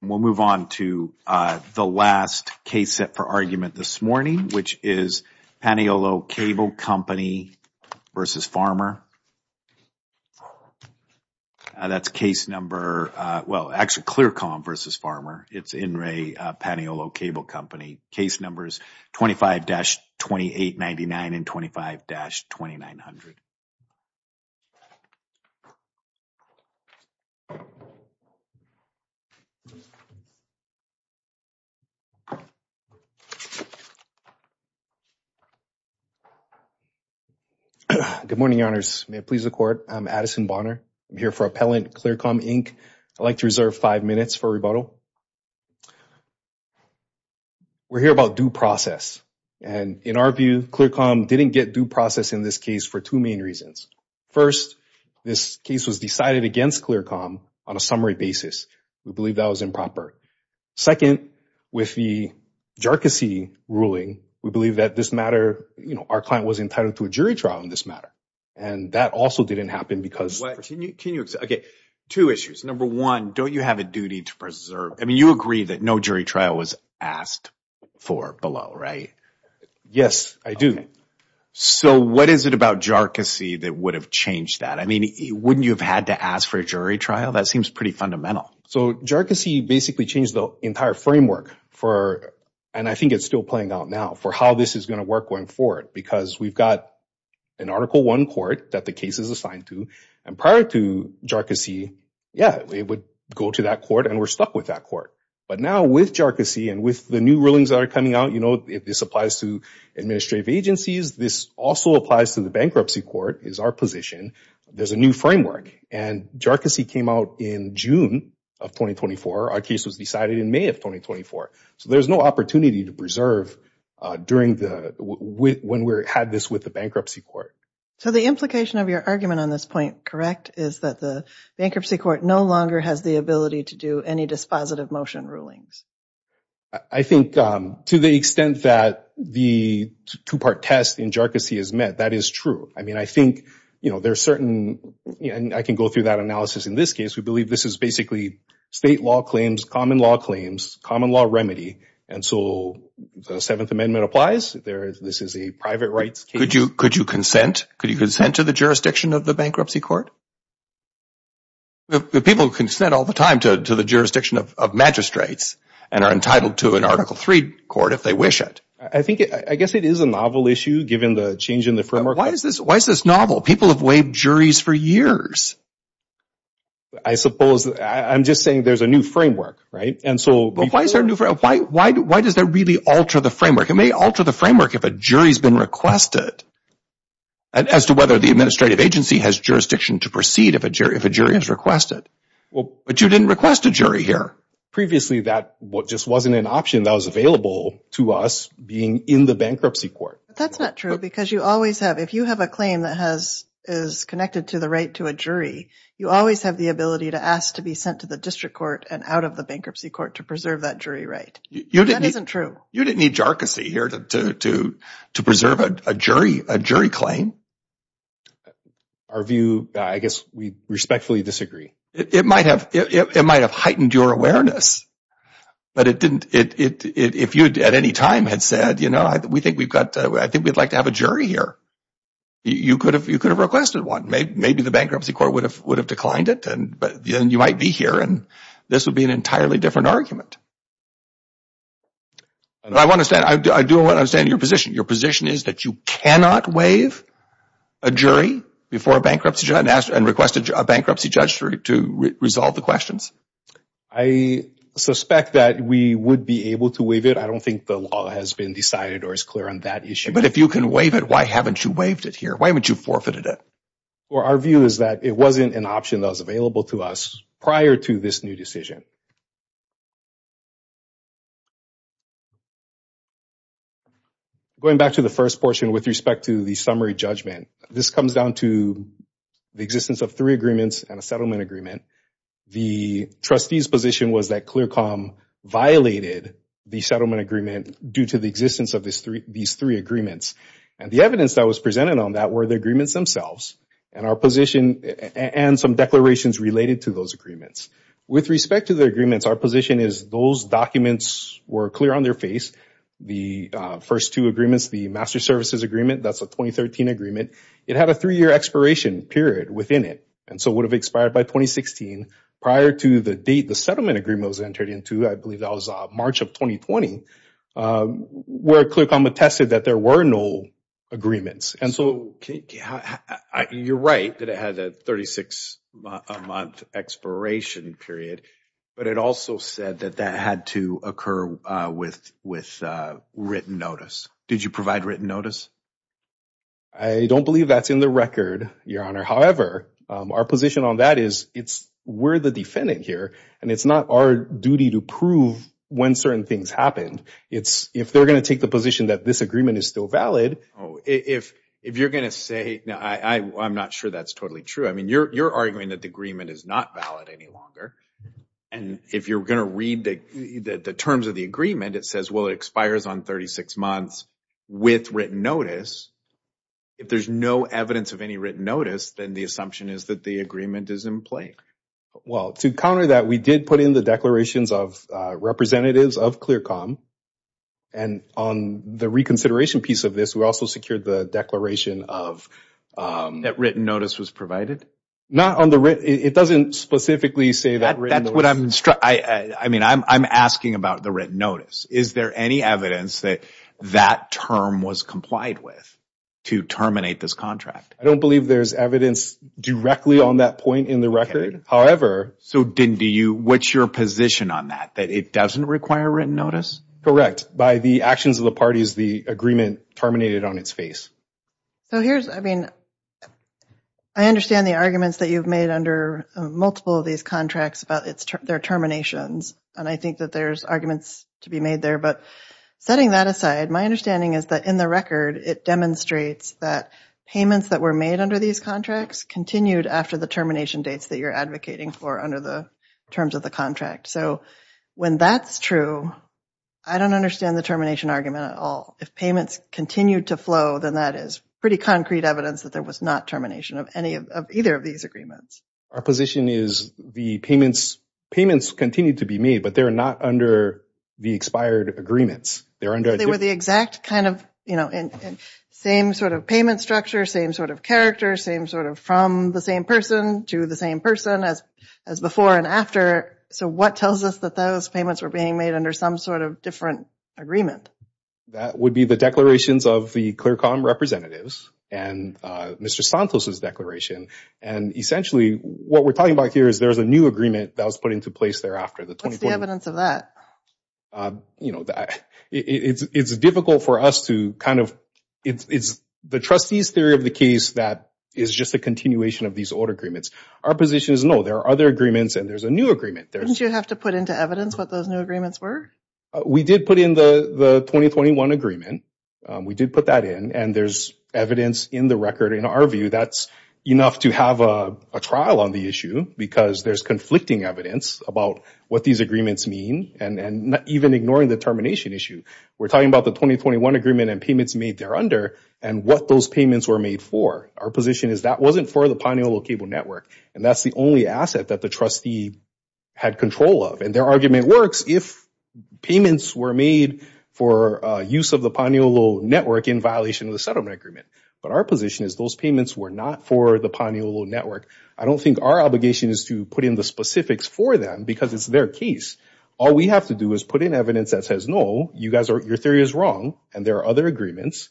We'll move on to the last case set for argument this morning, which is Paniolo Cable Company v. Farmer. That's case number, well, actually Clearcom v. Farmer. It's In Re Paniolo Cable Company. Case numbers 25-2899 and 25-2900. Good morning, Your Honors. May it please the Court. I'm Addison Bonner. I'm here for Appellant Clearcom, Inc. I'd like to reserve five minutes for rebuttal. We're here about due process, and in our view, Clearcom didn't get due process in this case for two main reasons. First, this case was decided against Clearcom on a summary basis. We believe that was improper. Second, with the jerkacy ruling, we believe that this matter, you know, our client was entitled to a jury trial in this matter, and that also didn't happen because... Can you... Okay. Two issues. Number one, don't you have a duty to preserve... I mean, you agree that no jury trial was asked for below, right? Yes, I do. So what is it about jerkacy that would have changed that? I mean, wouldn't you have had to ask for a jury trial? That seems pretty fundamental. So jerkacy basically changed the entire framework for, and I think it's still playing out now, for how this is going to work going forward because we've got an Article I court that the case is assigned to, and prior to jerkacy, yeah, it would go to that court and we're stuck with that court. But now with jerkacy and with the new rulings that are coming out, you know, if this applies to administrative agencies, this also applies to the bankruptcy court, is our position. There's a new framework, and jerkacy came out in June of 2024. Our case was decided in May of 2024. So there's no opportunity to preserve during the... When we had this with the bankruptcy court. So the implication of your argument on this point, correct, is that the bankruptcy court no longer has the ability to do any dispositive motion rulings. I think to the extent that the two-part test in jerkacy is met, that is true. I mean, I think, you know, there are certain... And I can go through that analysis. In this case, we believe this is basically state law claims, common law claims, common law remedy, and so the Seventh Amendment applies. This is a private rights case. Could you consent? Could you consent to the jurisdiction of the bankruptcy court? People consent all the time to the jurisdiction of magistrates and are entitled to an Article 3 court if they wish it. I think... I guess it is a novel issue given the change in the framework. Why is this novel? People have waived juries for years. I suppose... I'm just saying there's a new framework, right? And so... But why is there a new framework? Why does that really alter the framework? It may alter the framework if a jury has been requested as to whether the administrative agency has jurisdiction to proceed if a jury has requested. But you didn't request a jury here. Previously, that just wasn't an option that was available to us being in the bankruptcy court. But that's not true because you always have... If you have a claim that is connected to the right to a jury, you always have the ability to ask to be sent to the district court and out of the bankruptcy court to preserve that jury right. That isn't true. You didn't need jarcossy here to preserve a jury claim. Our view, I guess, we respectfully disagree. It might have heightened your awareness. But it didn't... If you at any time had said, you know, we think we've got... I think we'd like to have a jury here, you could have requested one. Maybe the bankruptcy court would have declined it, but then you might be here and this would be an entirely different argument. I do understand your position. Your position is that you cannot waive a jury before a bankruptcy judge and request a bankruptcy judge to resolve the questions? I suspect that we would be able to waive it. I don't think the law has been decided or is clear on that issue. But if you can waive it, why haven't you waived it here? Why haven't you forfeited it? Well, our view is that it wasn't an option that was available to us prior to this new decision. Going back to the first portion with respect to the summary judgment, this comes down to the existence of three agreements and a settlement agreement. The trustee's position was that ClearComm violated the settlement agreement due to the existence of these three agreements. And the evidence that was presented on that were the agreements themselves and our position and some declarations related to those agreements. With respect to the summary judgment, the trustee's position was that ClearComm violated the agreements. Our position is those documents were clear on their face. The first two agreements, the Master Services Agreement, that's a 2013 agreement, it had a three-year expiration period within it. And so it would have expired by 2016. Prior to the date the settlement agreement was entered into, I believe that was March of 2020, where ClearComm attested that there were no agreements. And so you're right that it had a 36-month expiration period, but it also said that that had to occur with written notice. Did you provide written notice? I don't believe that's in the record, Your Honor. However, our position on that is we're the defendant here, and it's not our duty to prove when certain things happened. If they're going to take the position that this agreement is still valid, if you're going to say, I'm not sure that's totally true. I mean, you're arguing that the agreement is not valid any longer, and if you're going to read the terms of the agreement, it says, well, it expires on 36 months with written notice. If there's no evidence of any written notice, then the assumption is that the agreement is in play. Well, to counter that, we did put in the declarations of representatives of ClearComm. And on the reconsideration piece of this, we also secured the declaration of... That written notice was provided? Not on the written... It doesn't specifically say that written notice... That's what I'm... I mean, I'm asking about the written notice. Is there any evidence that that term was complied with to terminate this contract? I don't believe there's evidence directly on that point in the record. However... So, Dindy, what's your position on that, that it doesn't require written notice? Correct. By the actions of the parties, the agreement terminated on its face. So here's, I mean, I understand the arguments that you've made under multiple of these contracts about their terminations, and I think that there's arguments to be made there. But setting that aside, my understanding is that in the record, it demonstrates that payments that were made under these contracts continued after the termination dates that you're advocating for under the terms of the contract. So when that's true, I don't understand the termination argument at all. If payments continued to flow, then that is pretty concrete evidence that there was not termination of either of these agreements. Our position is the payments continued to be made, but they're not under the expired agreements. They're under... They're kept kind of in same sort of payment structure, same sort of character, same sort of from the same person to the same person as before and after. So what tells us that those payments were being made under some sort of different agreement? That would be the declarations of the Clercom representatives and Mr. Santos' declaration. And essentially, what we're talking about here is there's a new agreement that was put into place thereafter. What's the evidence of that? You know, it's difficult for us to kind of... The trustee's theory of the case that is just a continuation of these old agreements. Our position is no, there are other agreements and there's a new agreement. Didn't you have to put into evidence what those new agreements were? We did put in the 2021 agreement. We did put that in and there's evidence in the record. In our view, that's enough to have a trial on the issue because there's conflicting evidence about what these agreements mean and even ignoring the termination issue. We're talking about the 2021 agreement and payments made there under and what those payments were made for. Our position is that wasn't for the Paniolo Cable Network. And that's the only asset that the trustee had control of. And their argument works if payments were made for use of the Paniolo Network in violation of the settlement agreement. But our position is those payments were not for the Paniolo Network. I don't think our obligation is to put in the specifics for them because it's their case. All we have to do is put in evidence that says, no, you guys are... Your theory is wrong and there are other agreements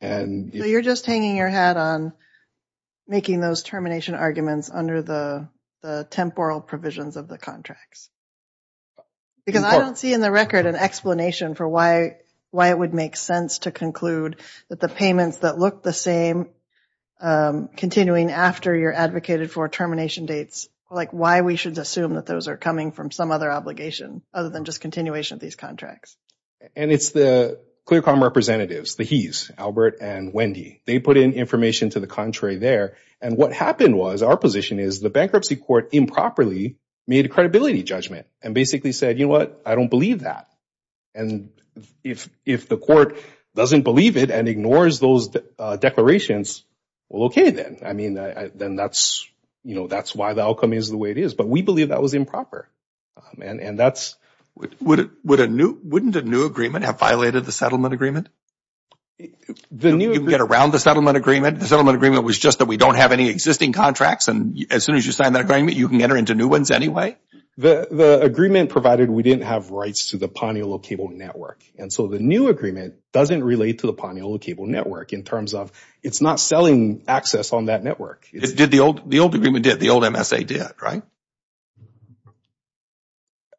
and... You're just hanging your hat on making those termination arguments under the temporal provisions of the contracts. Because I don't see in the record an explanation for why it would make sense to conclude that the payments that look the same continuing after you're advocated for termination dates, like why we should assume that those are coming from some other obligation other than just continuation of these contracts. And it's the ClearCom representatives, the He's, Albert and Wendy, they put in information to the contrary there. And what happened was our position is the bankruptcy court improperly made a credibility judgment and basically said, you know what? I don't believe that. And if the court doesn't believe it and ignores those declarations, well, okay then. I mean, then that's, you know, that's why the outcome is the way it is. But we believe that was improper. And that's... Wouldn't a new agreement have violated the settlement agreement? The new agreement... You can get around the settlement agreement. The settlement agreement was just that we don't have any existing contracts and as soon as you sign that agreement, you can enter into new ones anyway? The agreement provided we didn't have rights to the Paniolo Cable Network. And so the new agreement doesn't relate to the Paniolo Cable Network in terms of it's not selling access on that network. It did. The old agreement did. The old MSA did, right?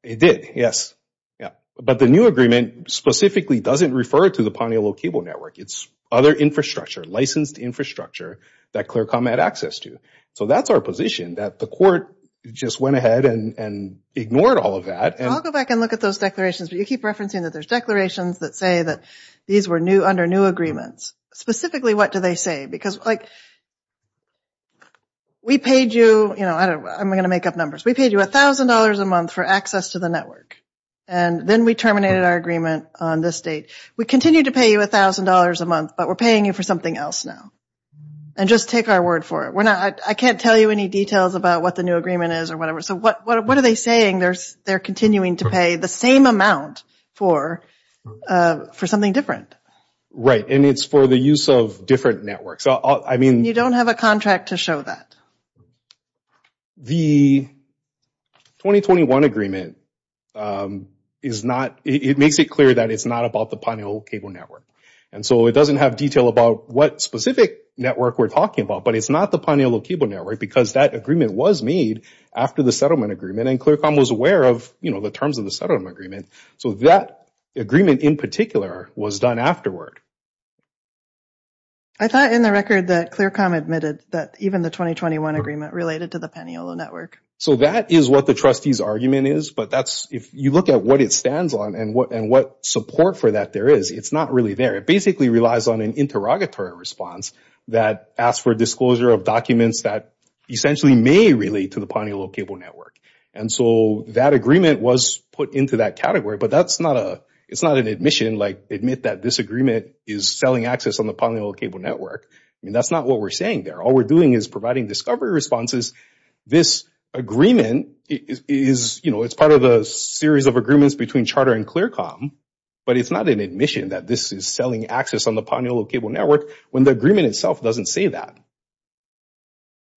It did. Yes. Yeah. But the new agreement specifically doesn't refer to the Paniolo Cable Network. It's other infrastructure, licensed infrastructure that ClearCom had access to. So that's our position, that the court just went ahead and ignored all of that. I'll go back and look at those declarations, but you keep referencing that there's declarations that say that these were under new agreements. Specifically what do they say? Because like, we paid you, you know, I'm going to make up numbers. We paid you $1,000 a month for access to the network. And then we terminated our agreement on this date. We continue to pay you $1,000 a month, but we're paying you for something else now. And just take our word for it. I can't tell you any details about what the new agreement is or whatever. So what are they saying? They're continuing to pay the same amount for something different. Right. And it's for the use of different networks. You don't have a contract to show that. The 2021 agreement is not, it makes it clear that it's not about the Paniolo Cable Network. And so it doesn't have detail about what specific network we're talking about. But it's not the Paniolo Cable Network because that agreement was made after the settlement agreement and ClearCom was aware of, you know, the terms of the settlement agreement. So that agreement in particular was done afterward. I thought in the record that ClearCom admitted that even the 2021 agreement related to the Paniolo Network. So that is what the trustee's argument is. But that's if you look at what it stands on and what and what support for that there is, it's not really there. It basically relies on an interrogatory response that asks for disclosure of documents that essentially may relate to the Paniolo Cable Network. And so that agreement was put into that category, but that's not a, it's not an admission like admit that this agreement is selling access on the Paniolo Cable Network. I mean, that's not what we're saying there. All we're doing is providing discovery responses. This agreement is, you know, it's part of the series of agreements between Charter and ClearCom, but it's not an admission that this is selling access on the Paniolo Cable Network when the agreement itself doesn't say that.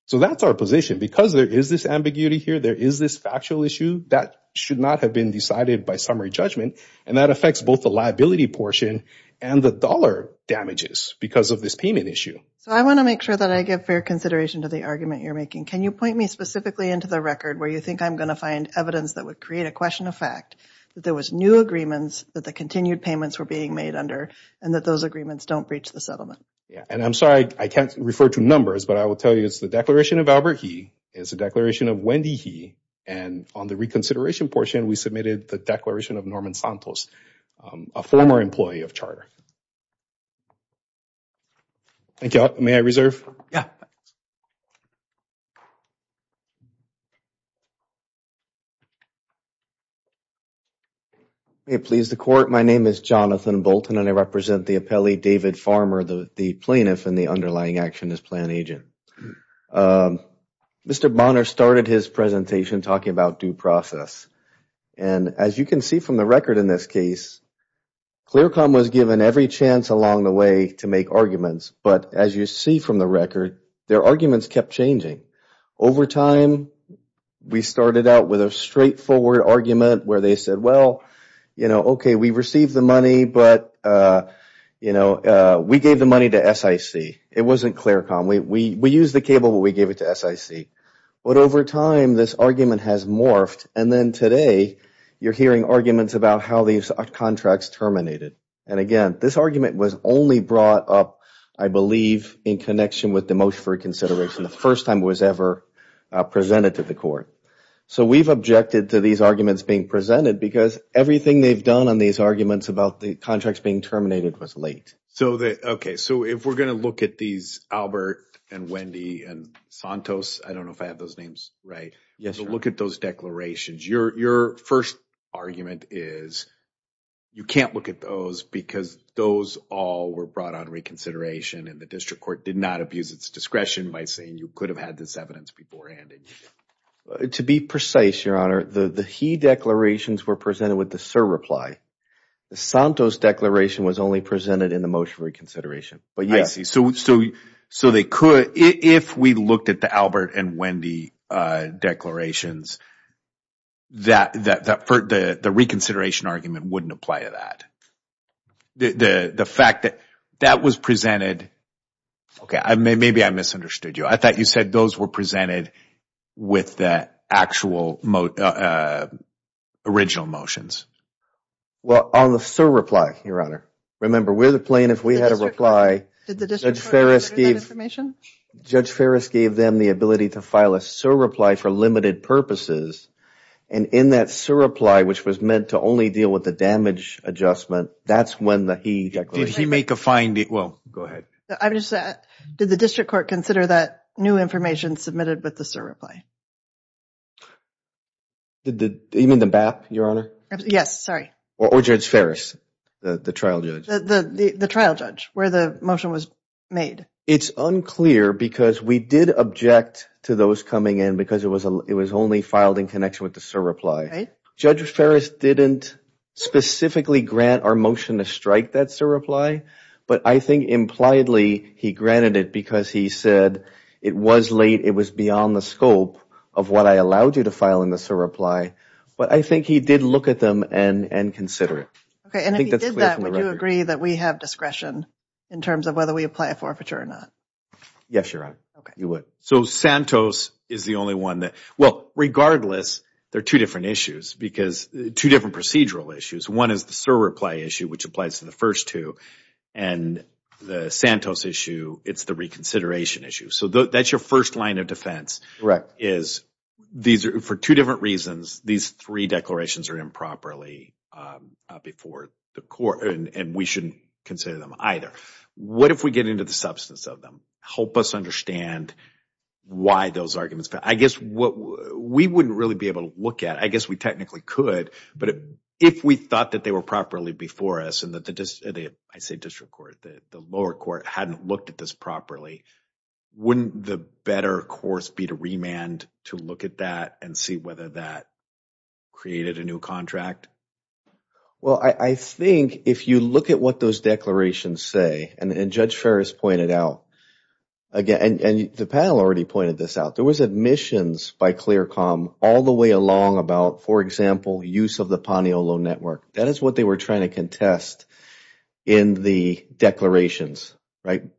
So that's our position because there is this ambiguity here. There is this factual issue that should not have been decided by summary judgment. And that affects both the liability portion and the dollar damages because of this payment issue. So I want to make sure that I give fair consideration to the argument you're making. Can you point me specifically into the record where you think I'm going to find evidence that would create a question of fact, that there was new agreements, that the continued payments were being made under, and that those agreements don't breach the settlement? Yeah. And I'm sorry, I can't refer to numbers, but I will tell you it's the Declaration of Albert He, it's the Declaration of Wendy He, and on the reconsideration portion, we submitted the Declaration of Norman Santos, a former employee of Charter. Thank you all. May I reserve? Yeah. Please, the court, my name is Jonathan Bolton, and I represent the appellee David Farmer, the plaintiff and the underlying action plan agent. Mr. Bonner started his presentation talking about due process. And as you can see from the record in this case, ClearCom was given every chance along the way to make arguments, but as you see from the record, their arguments kept changing. Over time, we started out with a straightforward argument where they said, well, okay, we received the money, but we gave the money to SIC. It wasn't ClearCom. We used the cable, but we gave it to SIC. But over time, this argument has morphed, and then today, you're hearing arguments about how these contracts terminated. And again, this argument was only brought up, I believe, in connection with the motion for reconsideration, the first time it was ever presented to the court. So we've objected to these arguments being presented because everything they've done on these arguments about the contracts being terminated was late. Okay. So if we're going to look at these, Albert and Wendy and Santos, I don't know if I have those names right. Yes, sir. Look at those declarations. Your first argument is you can't look at those because those all were brought on reconsideration and the district court did not abuse its discretion by saying you could have had this evidence beforehand. To be precise, Your Honor, the he declarations were presented with the sir reply. The Santos declaration was only presented in the motion for reconsideration. I see. So they could, if we looked at the Albert and Wendy declarations, the reconsideration argument wouldn't apply to that. The fact that that was presented, okay, maybe I misunderstood you. I thought you said those were presented with the actual original motions. Well, on the sir reply, Your Honor. Remember, we're the plaintiff. We had a reply. Did the district court consider that information? Judge Ferris gave them the ability to file a sir reply for limited purposes and in that sir reply, which was meant to only deal with the damage adjustment, that's when the he declaration. Did he make a finding? Well, go ahead. I'm just saying, did the district court consider that new information submitted with the sir reply? You mean the BAP, Your Honor? Yes, sorry. Or Judge Ferris, the trial judge. The trial judge, where the motion was made. It's unclear because we did object to those coming in because it was only filed in connection with the sir reply. Right. Judge Ferris didn't specifically grant our motion to strike that sir reply, but I think impliedly he granted it because he said it was late, it was beyond the scope of what I allowed you to file in the sir reply. I think he did look at them and consider it. If he did that, would you agree that we have discretion in terms of whether we apply a forfeiture or not? Yes, Your Honor. You would. Santos is the only one that, well, regardless, there are two different issues because two different procedural issues. One is the sir reply issue, which applies to the first two, and the Santos issue, it's the reconsideration issue. That's your first line of defense. Correct. The second part is, for two different reasons, these three declarations are improperly before the court, and we shouldn't consider them either. What if we get into the substance of them? Help us understand why those arguments. I guess what we wouldn't really be able to look at, I guess we technically could, but if we thought that they were properly before us, and I say district court, the lower court hadn't looked at this properly, wouldn't the better course be to remand to look at that and see whether that created a new contract? Well, I think if you look at what those declarations say, and Judge Ferris pointed out, and the panel already pointed this out, there was admissions by ClearCom all the way along about, for example, use of the Paniolo Network. That is what they were trying to contest in the declarations,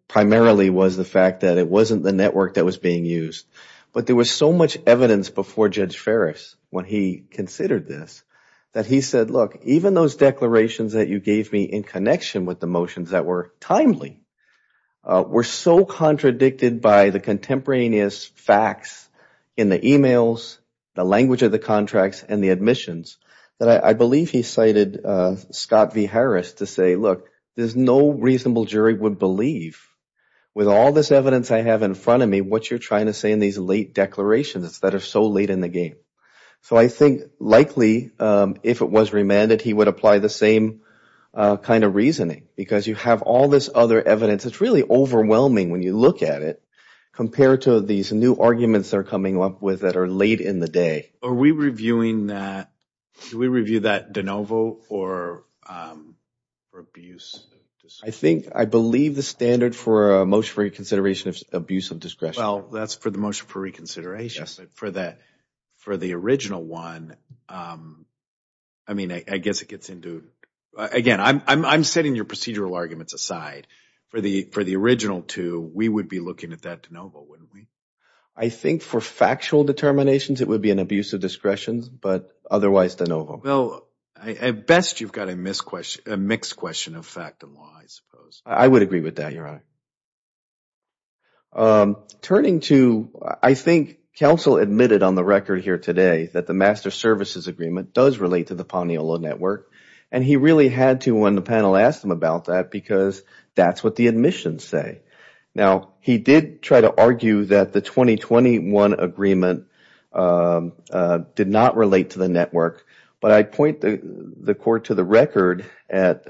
primarily was the fact that it wasn't the network that was being used. But there was so much evidence before Judge Ferris when he considered this that he said, look, even those declarations that you gave me in connection with the motions that were timely were so contradicted by the contemporaneous facts in the emails, the language of the contracts, and the admissions, that I believe he cited Scott V. Harris to say, look, there's no reasonable jury would believe with all this evidence I have in front of me what you're trying to say in these late declarations that are so late in the game. So I think likely, if it was remanded, he would apply the same kind of reasoning because you have all this other evidence that's really overwhelming when you look at it compared to these new arguments that are coming up with that are late in the day. Are we reviewing that, do we review that de novo or abuse of discretion? I think, I believe the standard for a motion for reconsideration is abuse of discretion. Well, that's for the motion for reconsideration, but for the original one, I mean, I guess it gets into, again, I'm setting your procedural arguments aside. For the original two, we would be looking at that de novo, wouldn't we? I think for factual determinations, it would be an abuse of discretion, but otherwise de Well, at best, you've got a mixed question of fact and law, I suppose. I would agree with that, Your Honor. Turning to, I think counsel admitted on the record here today that the master services agreement does relate to the Paniolo Network, and he really had to, when the panel asked him about that, because that's what the admissions say. Now, he did try to argue that the 2021 agreement did not relate to the network, but I point the court to the record at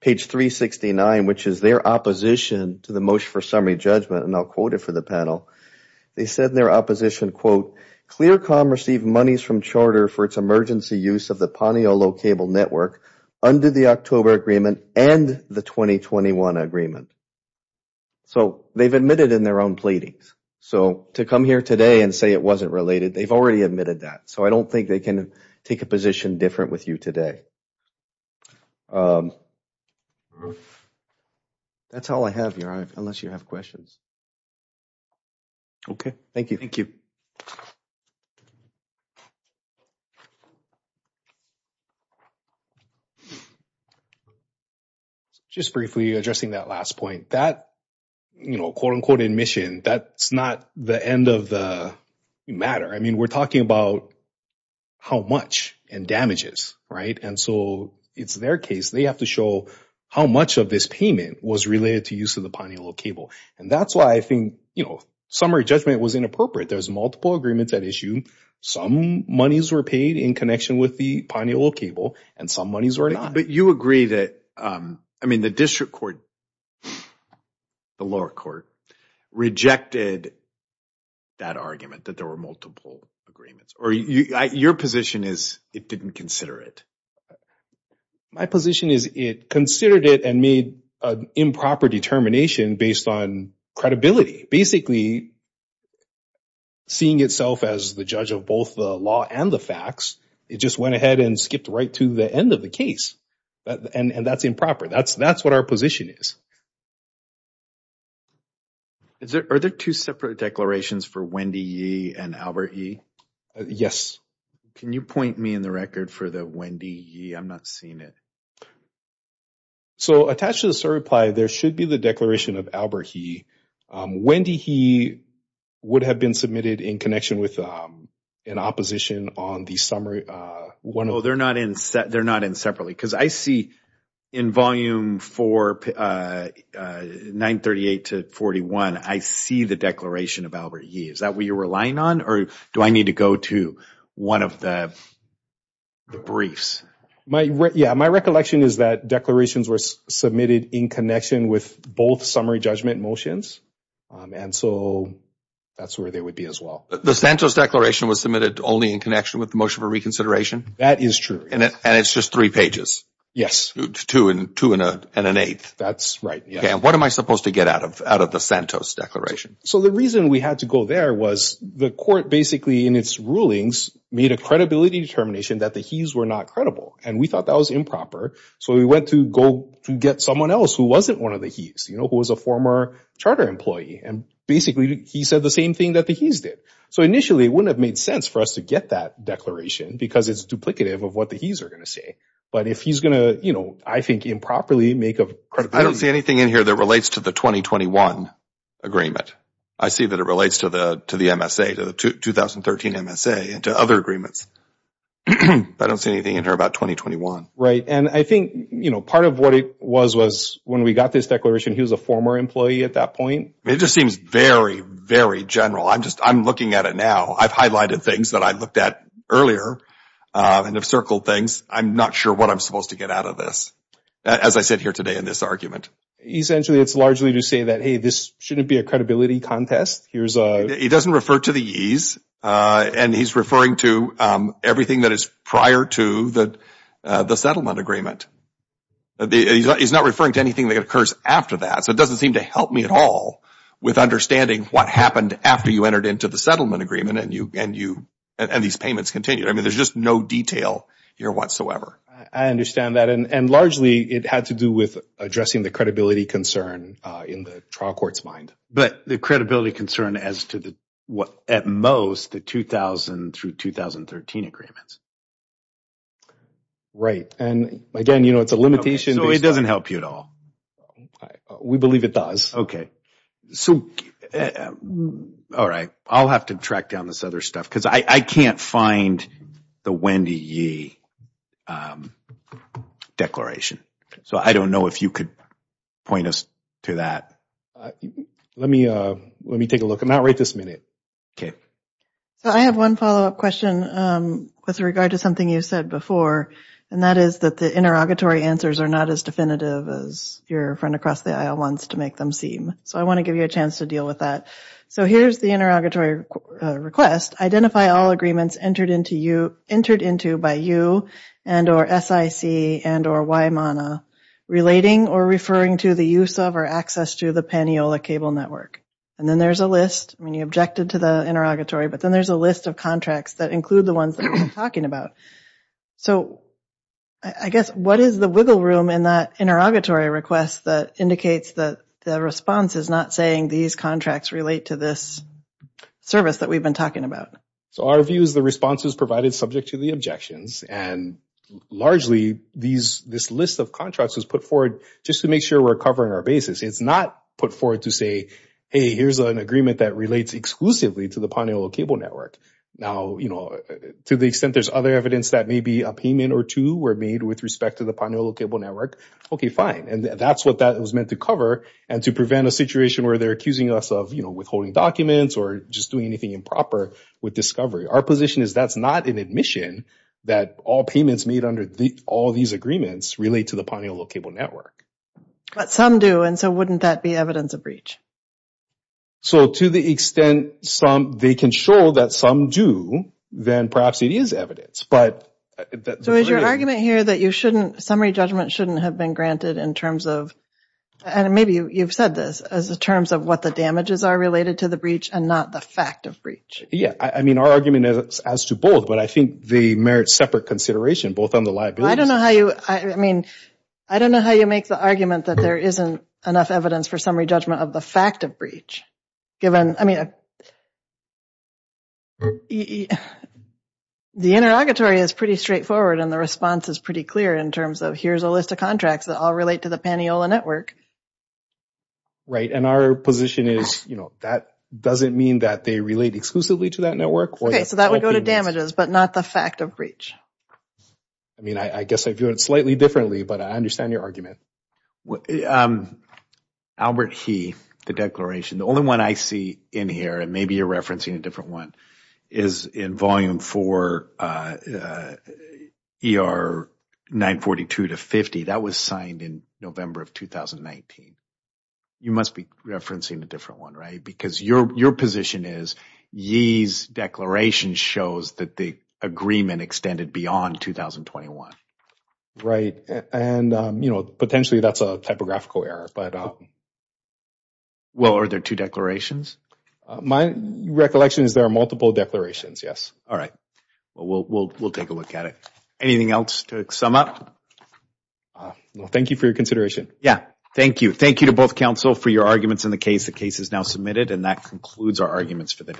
page 369, which is their opposition to the motion for summary judgment, and I'll quote it for the panel. They said in their opposition, quote, ClearCom received monies from charter for its emergency use of the Paniolo Cable Network under the October agreement and the 2021 agreement. So they've admitted in their own pleadings. So to come here today and say it wasn't related, they've already admitted that. So I don't think they can take a position different with you today. That's all I have, Your Honor, unless you have questions. Okay. Thank you. Thank you. Just briefly addressing that last point, that, you know, quote, unquote, admission, that's not the end of the matter. I mean, we're talking about how much and damages, right? And so it's their case. They have to show how much of this payment was related to use of the Paniolo Cable. And that's why I think, you know, summary judgment was inappropriate. There's multiple agreements at issue. Some monies were paid in connection with the Paniolo Cable and some monies were not. But you agree that, I mean, the district court, the lower court rejected that argument, that there were multiple agreements. Or your position is it didn't consider it. My position is it considered it and made an improper determination based on credibility. Basically, seeing itself as the judge of both the law and the facts, it just went ahead and skipped right to the end of the case. And that's improper. That's what our position is. Are there two separate declarations for Wendy Yee and Albert Yee? Yes. Can you point me in the record for the Wendy Yee? I'm not seeing it. So, attached to the certify, there should be the declaration of Albert Yee. Wendy Yee would have been submitted in connection with an opposition on the summary. Well, they're not in separately. Because I see in Volume 4, 938 to 41, I see the declaration of Albert Yee. Is that what you're relying on? Or do I need to go to one of the briefs? Yeah. My recollection is that declarations were submitted in connection with both summary judgment motions. And so, that's where they would be as well. The Santos Declaration was submitted only in connection with the motion for reconsideration? That is true. And it's just three pages? Yes. Two and an eighth? That's right. And what am I supposed to get out of the Santos Declaration? So, the reason we had to go there was the court basically, in its rulings, made a credibility determination that the He's were not credible. And we thought that was improper. So, we went to go to get someone else who wasn't one of the He's, who was a former charter employee. And basically, he said the same thing that the He's did. So, initially, it wouldn't have made sense for us to get that declaration because it's duplicative of what the He's are going to say. But if he's going to, I think, improperly make a credibility… I don't see anything in here that relates to the 2021 agreement. I see that it relates to the MSA, to the 2013 MSA and to other agreements. I don't see anything in here about 2021. And I think, you know, part of what it was, was when we got this declaration, he was a former employee at that point. It just seems very, very general. I'm just, I'm looking at it now. I've highlighted things that I looked at earlier and have circled things. I'm not sure what I'm supposed to get out of this, as I sit here today in this argument. Essentially, it's largely to say that, hey, this shouldn't be a credibility contest. Here's a… He doesn't refer to the He's. And he's referring to everything that is prior to the settlement agreement. He's not referring to anything that occurs after that. So, it doesn't seem to help me at all with understanding what happened after you entered into the settlement agreement and these payments continued. I mean, there's just no detail here whatsoever. I understand that. And largely, it had to do with addressing the credibility concern in the trial court's mind. But the credibility concern as to what, at most, the 2000 through 2013 agreements. Right. And again, you know, it's a limitation. So, it doesn't help you at all? We believe it does. So, all right. I'll have to track down this other stuff because I can't find the Wendy Yee. Declaration. So, I don't know if you could point us to that. Let me take a look. I'm not right this minute. Okay. So, I have one follow-up question with regard to something you said before. And that is that the interrogatory answers are not as definitive as your friend across the aisle wants to make them seem. So, I want to give you a chance to deal with that. So, here's the interrogatory request. Identify all agreements entered into by you and or SIC and or YMANA relating or referring to the use of or access to the Paniola Cable Network. And then there's a list. I mean, you objected to the interrogatory. But then there's a list of contracts that include the ones that we're talking about. So, I guess, what is the wiggle room in that interrogatory request that indicates that the response is not saying these contracts relate to this service that we've been talking about? So, our view is the response is provided subject to the objections. And largely, this list of contracts was put forward just to make sure we're covering our basis. It's not put forward to say, hey, here's an agreement that relates exclusively to the Paniola Cable Network. Now, to the extent there's other evidence that maybe a payment or two were made with respect to the Paniola Cable Network, okay, fine. And that's what that was meant to cover and to prevent a situation where they're accusing us of withholding documents or just doing anything improper with discovery. Our position is that's not an admission that all payments made under all these agreements relate to the Paniola Cable Network. But some do, and so wouldn't that be evidence of breach? So, to the extent they can show that some do, then perhaps it is evidence. So, is your argument here that summary judgment shouldn't have been granted in terms of, and maybe you've said this, as in terms of what the damages are related to the breach and not the fact of breach? Yeah, I mean, our argument is as to both, but I think they merit separate consideration, both on the liabilities. I don't know how you, I mean, I don't know how you make the argument that there isn't enough evidence for summary judgment of the fact of breach, given, I mean, the interrogatory is pretty straightforward and the response is pretty clear in terms of here's a list of contracts that all relate to the Paniola Network. Right, and our position is, you know, that doesn't mean that they relate exclusively to that network. Okay, so that would go to damages, but not the fact of breach. I mean, I guess I view it slightly differently, but I understand your argument. Albert He, the declaration, the only one I see in here, and maybe you're referencing a different one, is in volume four, ER 942 to 50. That was signed in November of 2019. You must be referencing a different one, right? Because your position is Yee's declaration shows that the agreement extended beyond 2021. Right, and, you know, potentially that's a typographical error, but... Well, are there two declarations? My recollection is there are multiple declarations, yes. All right, well, we'll take a look at it. Anything else to sum up? Thank you for your consideration. Yeah, thank you. Thank you to both counsel for your arguments in the case. The case is now submitted and that concludes our arguments for the day.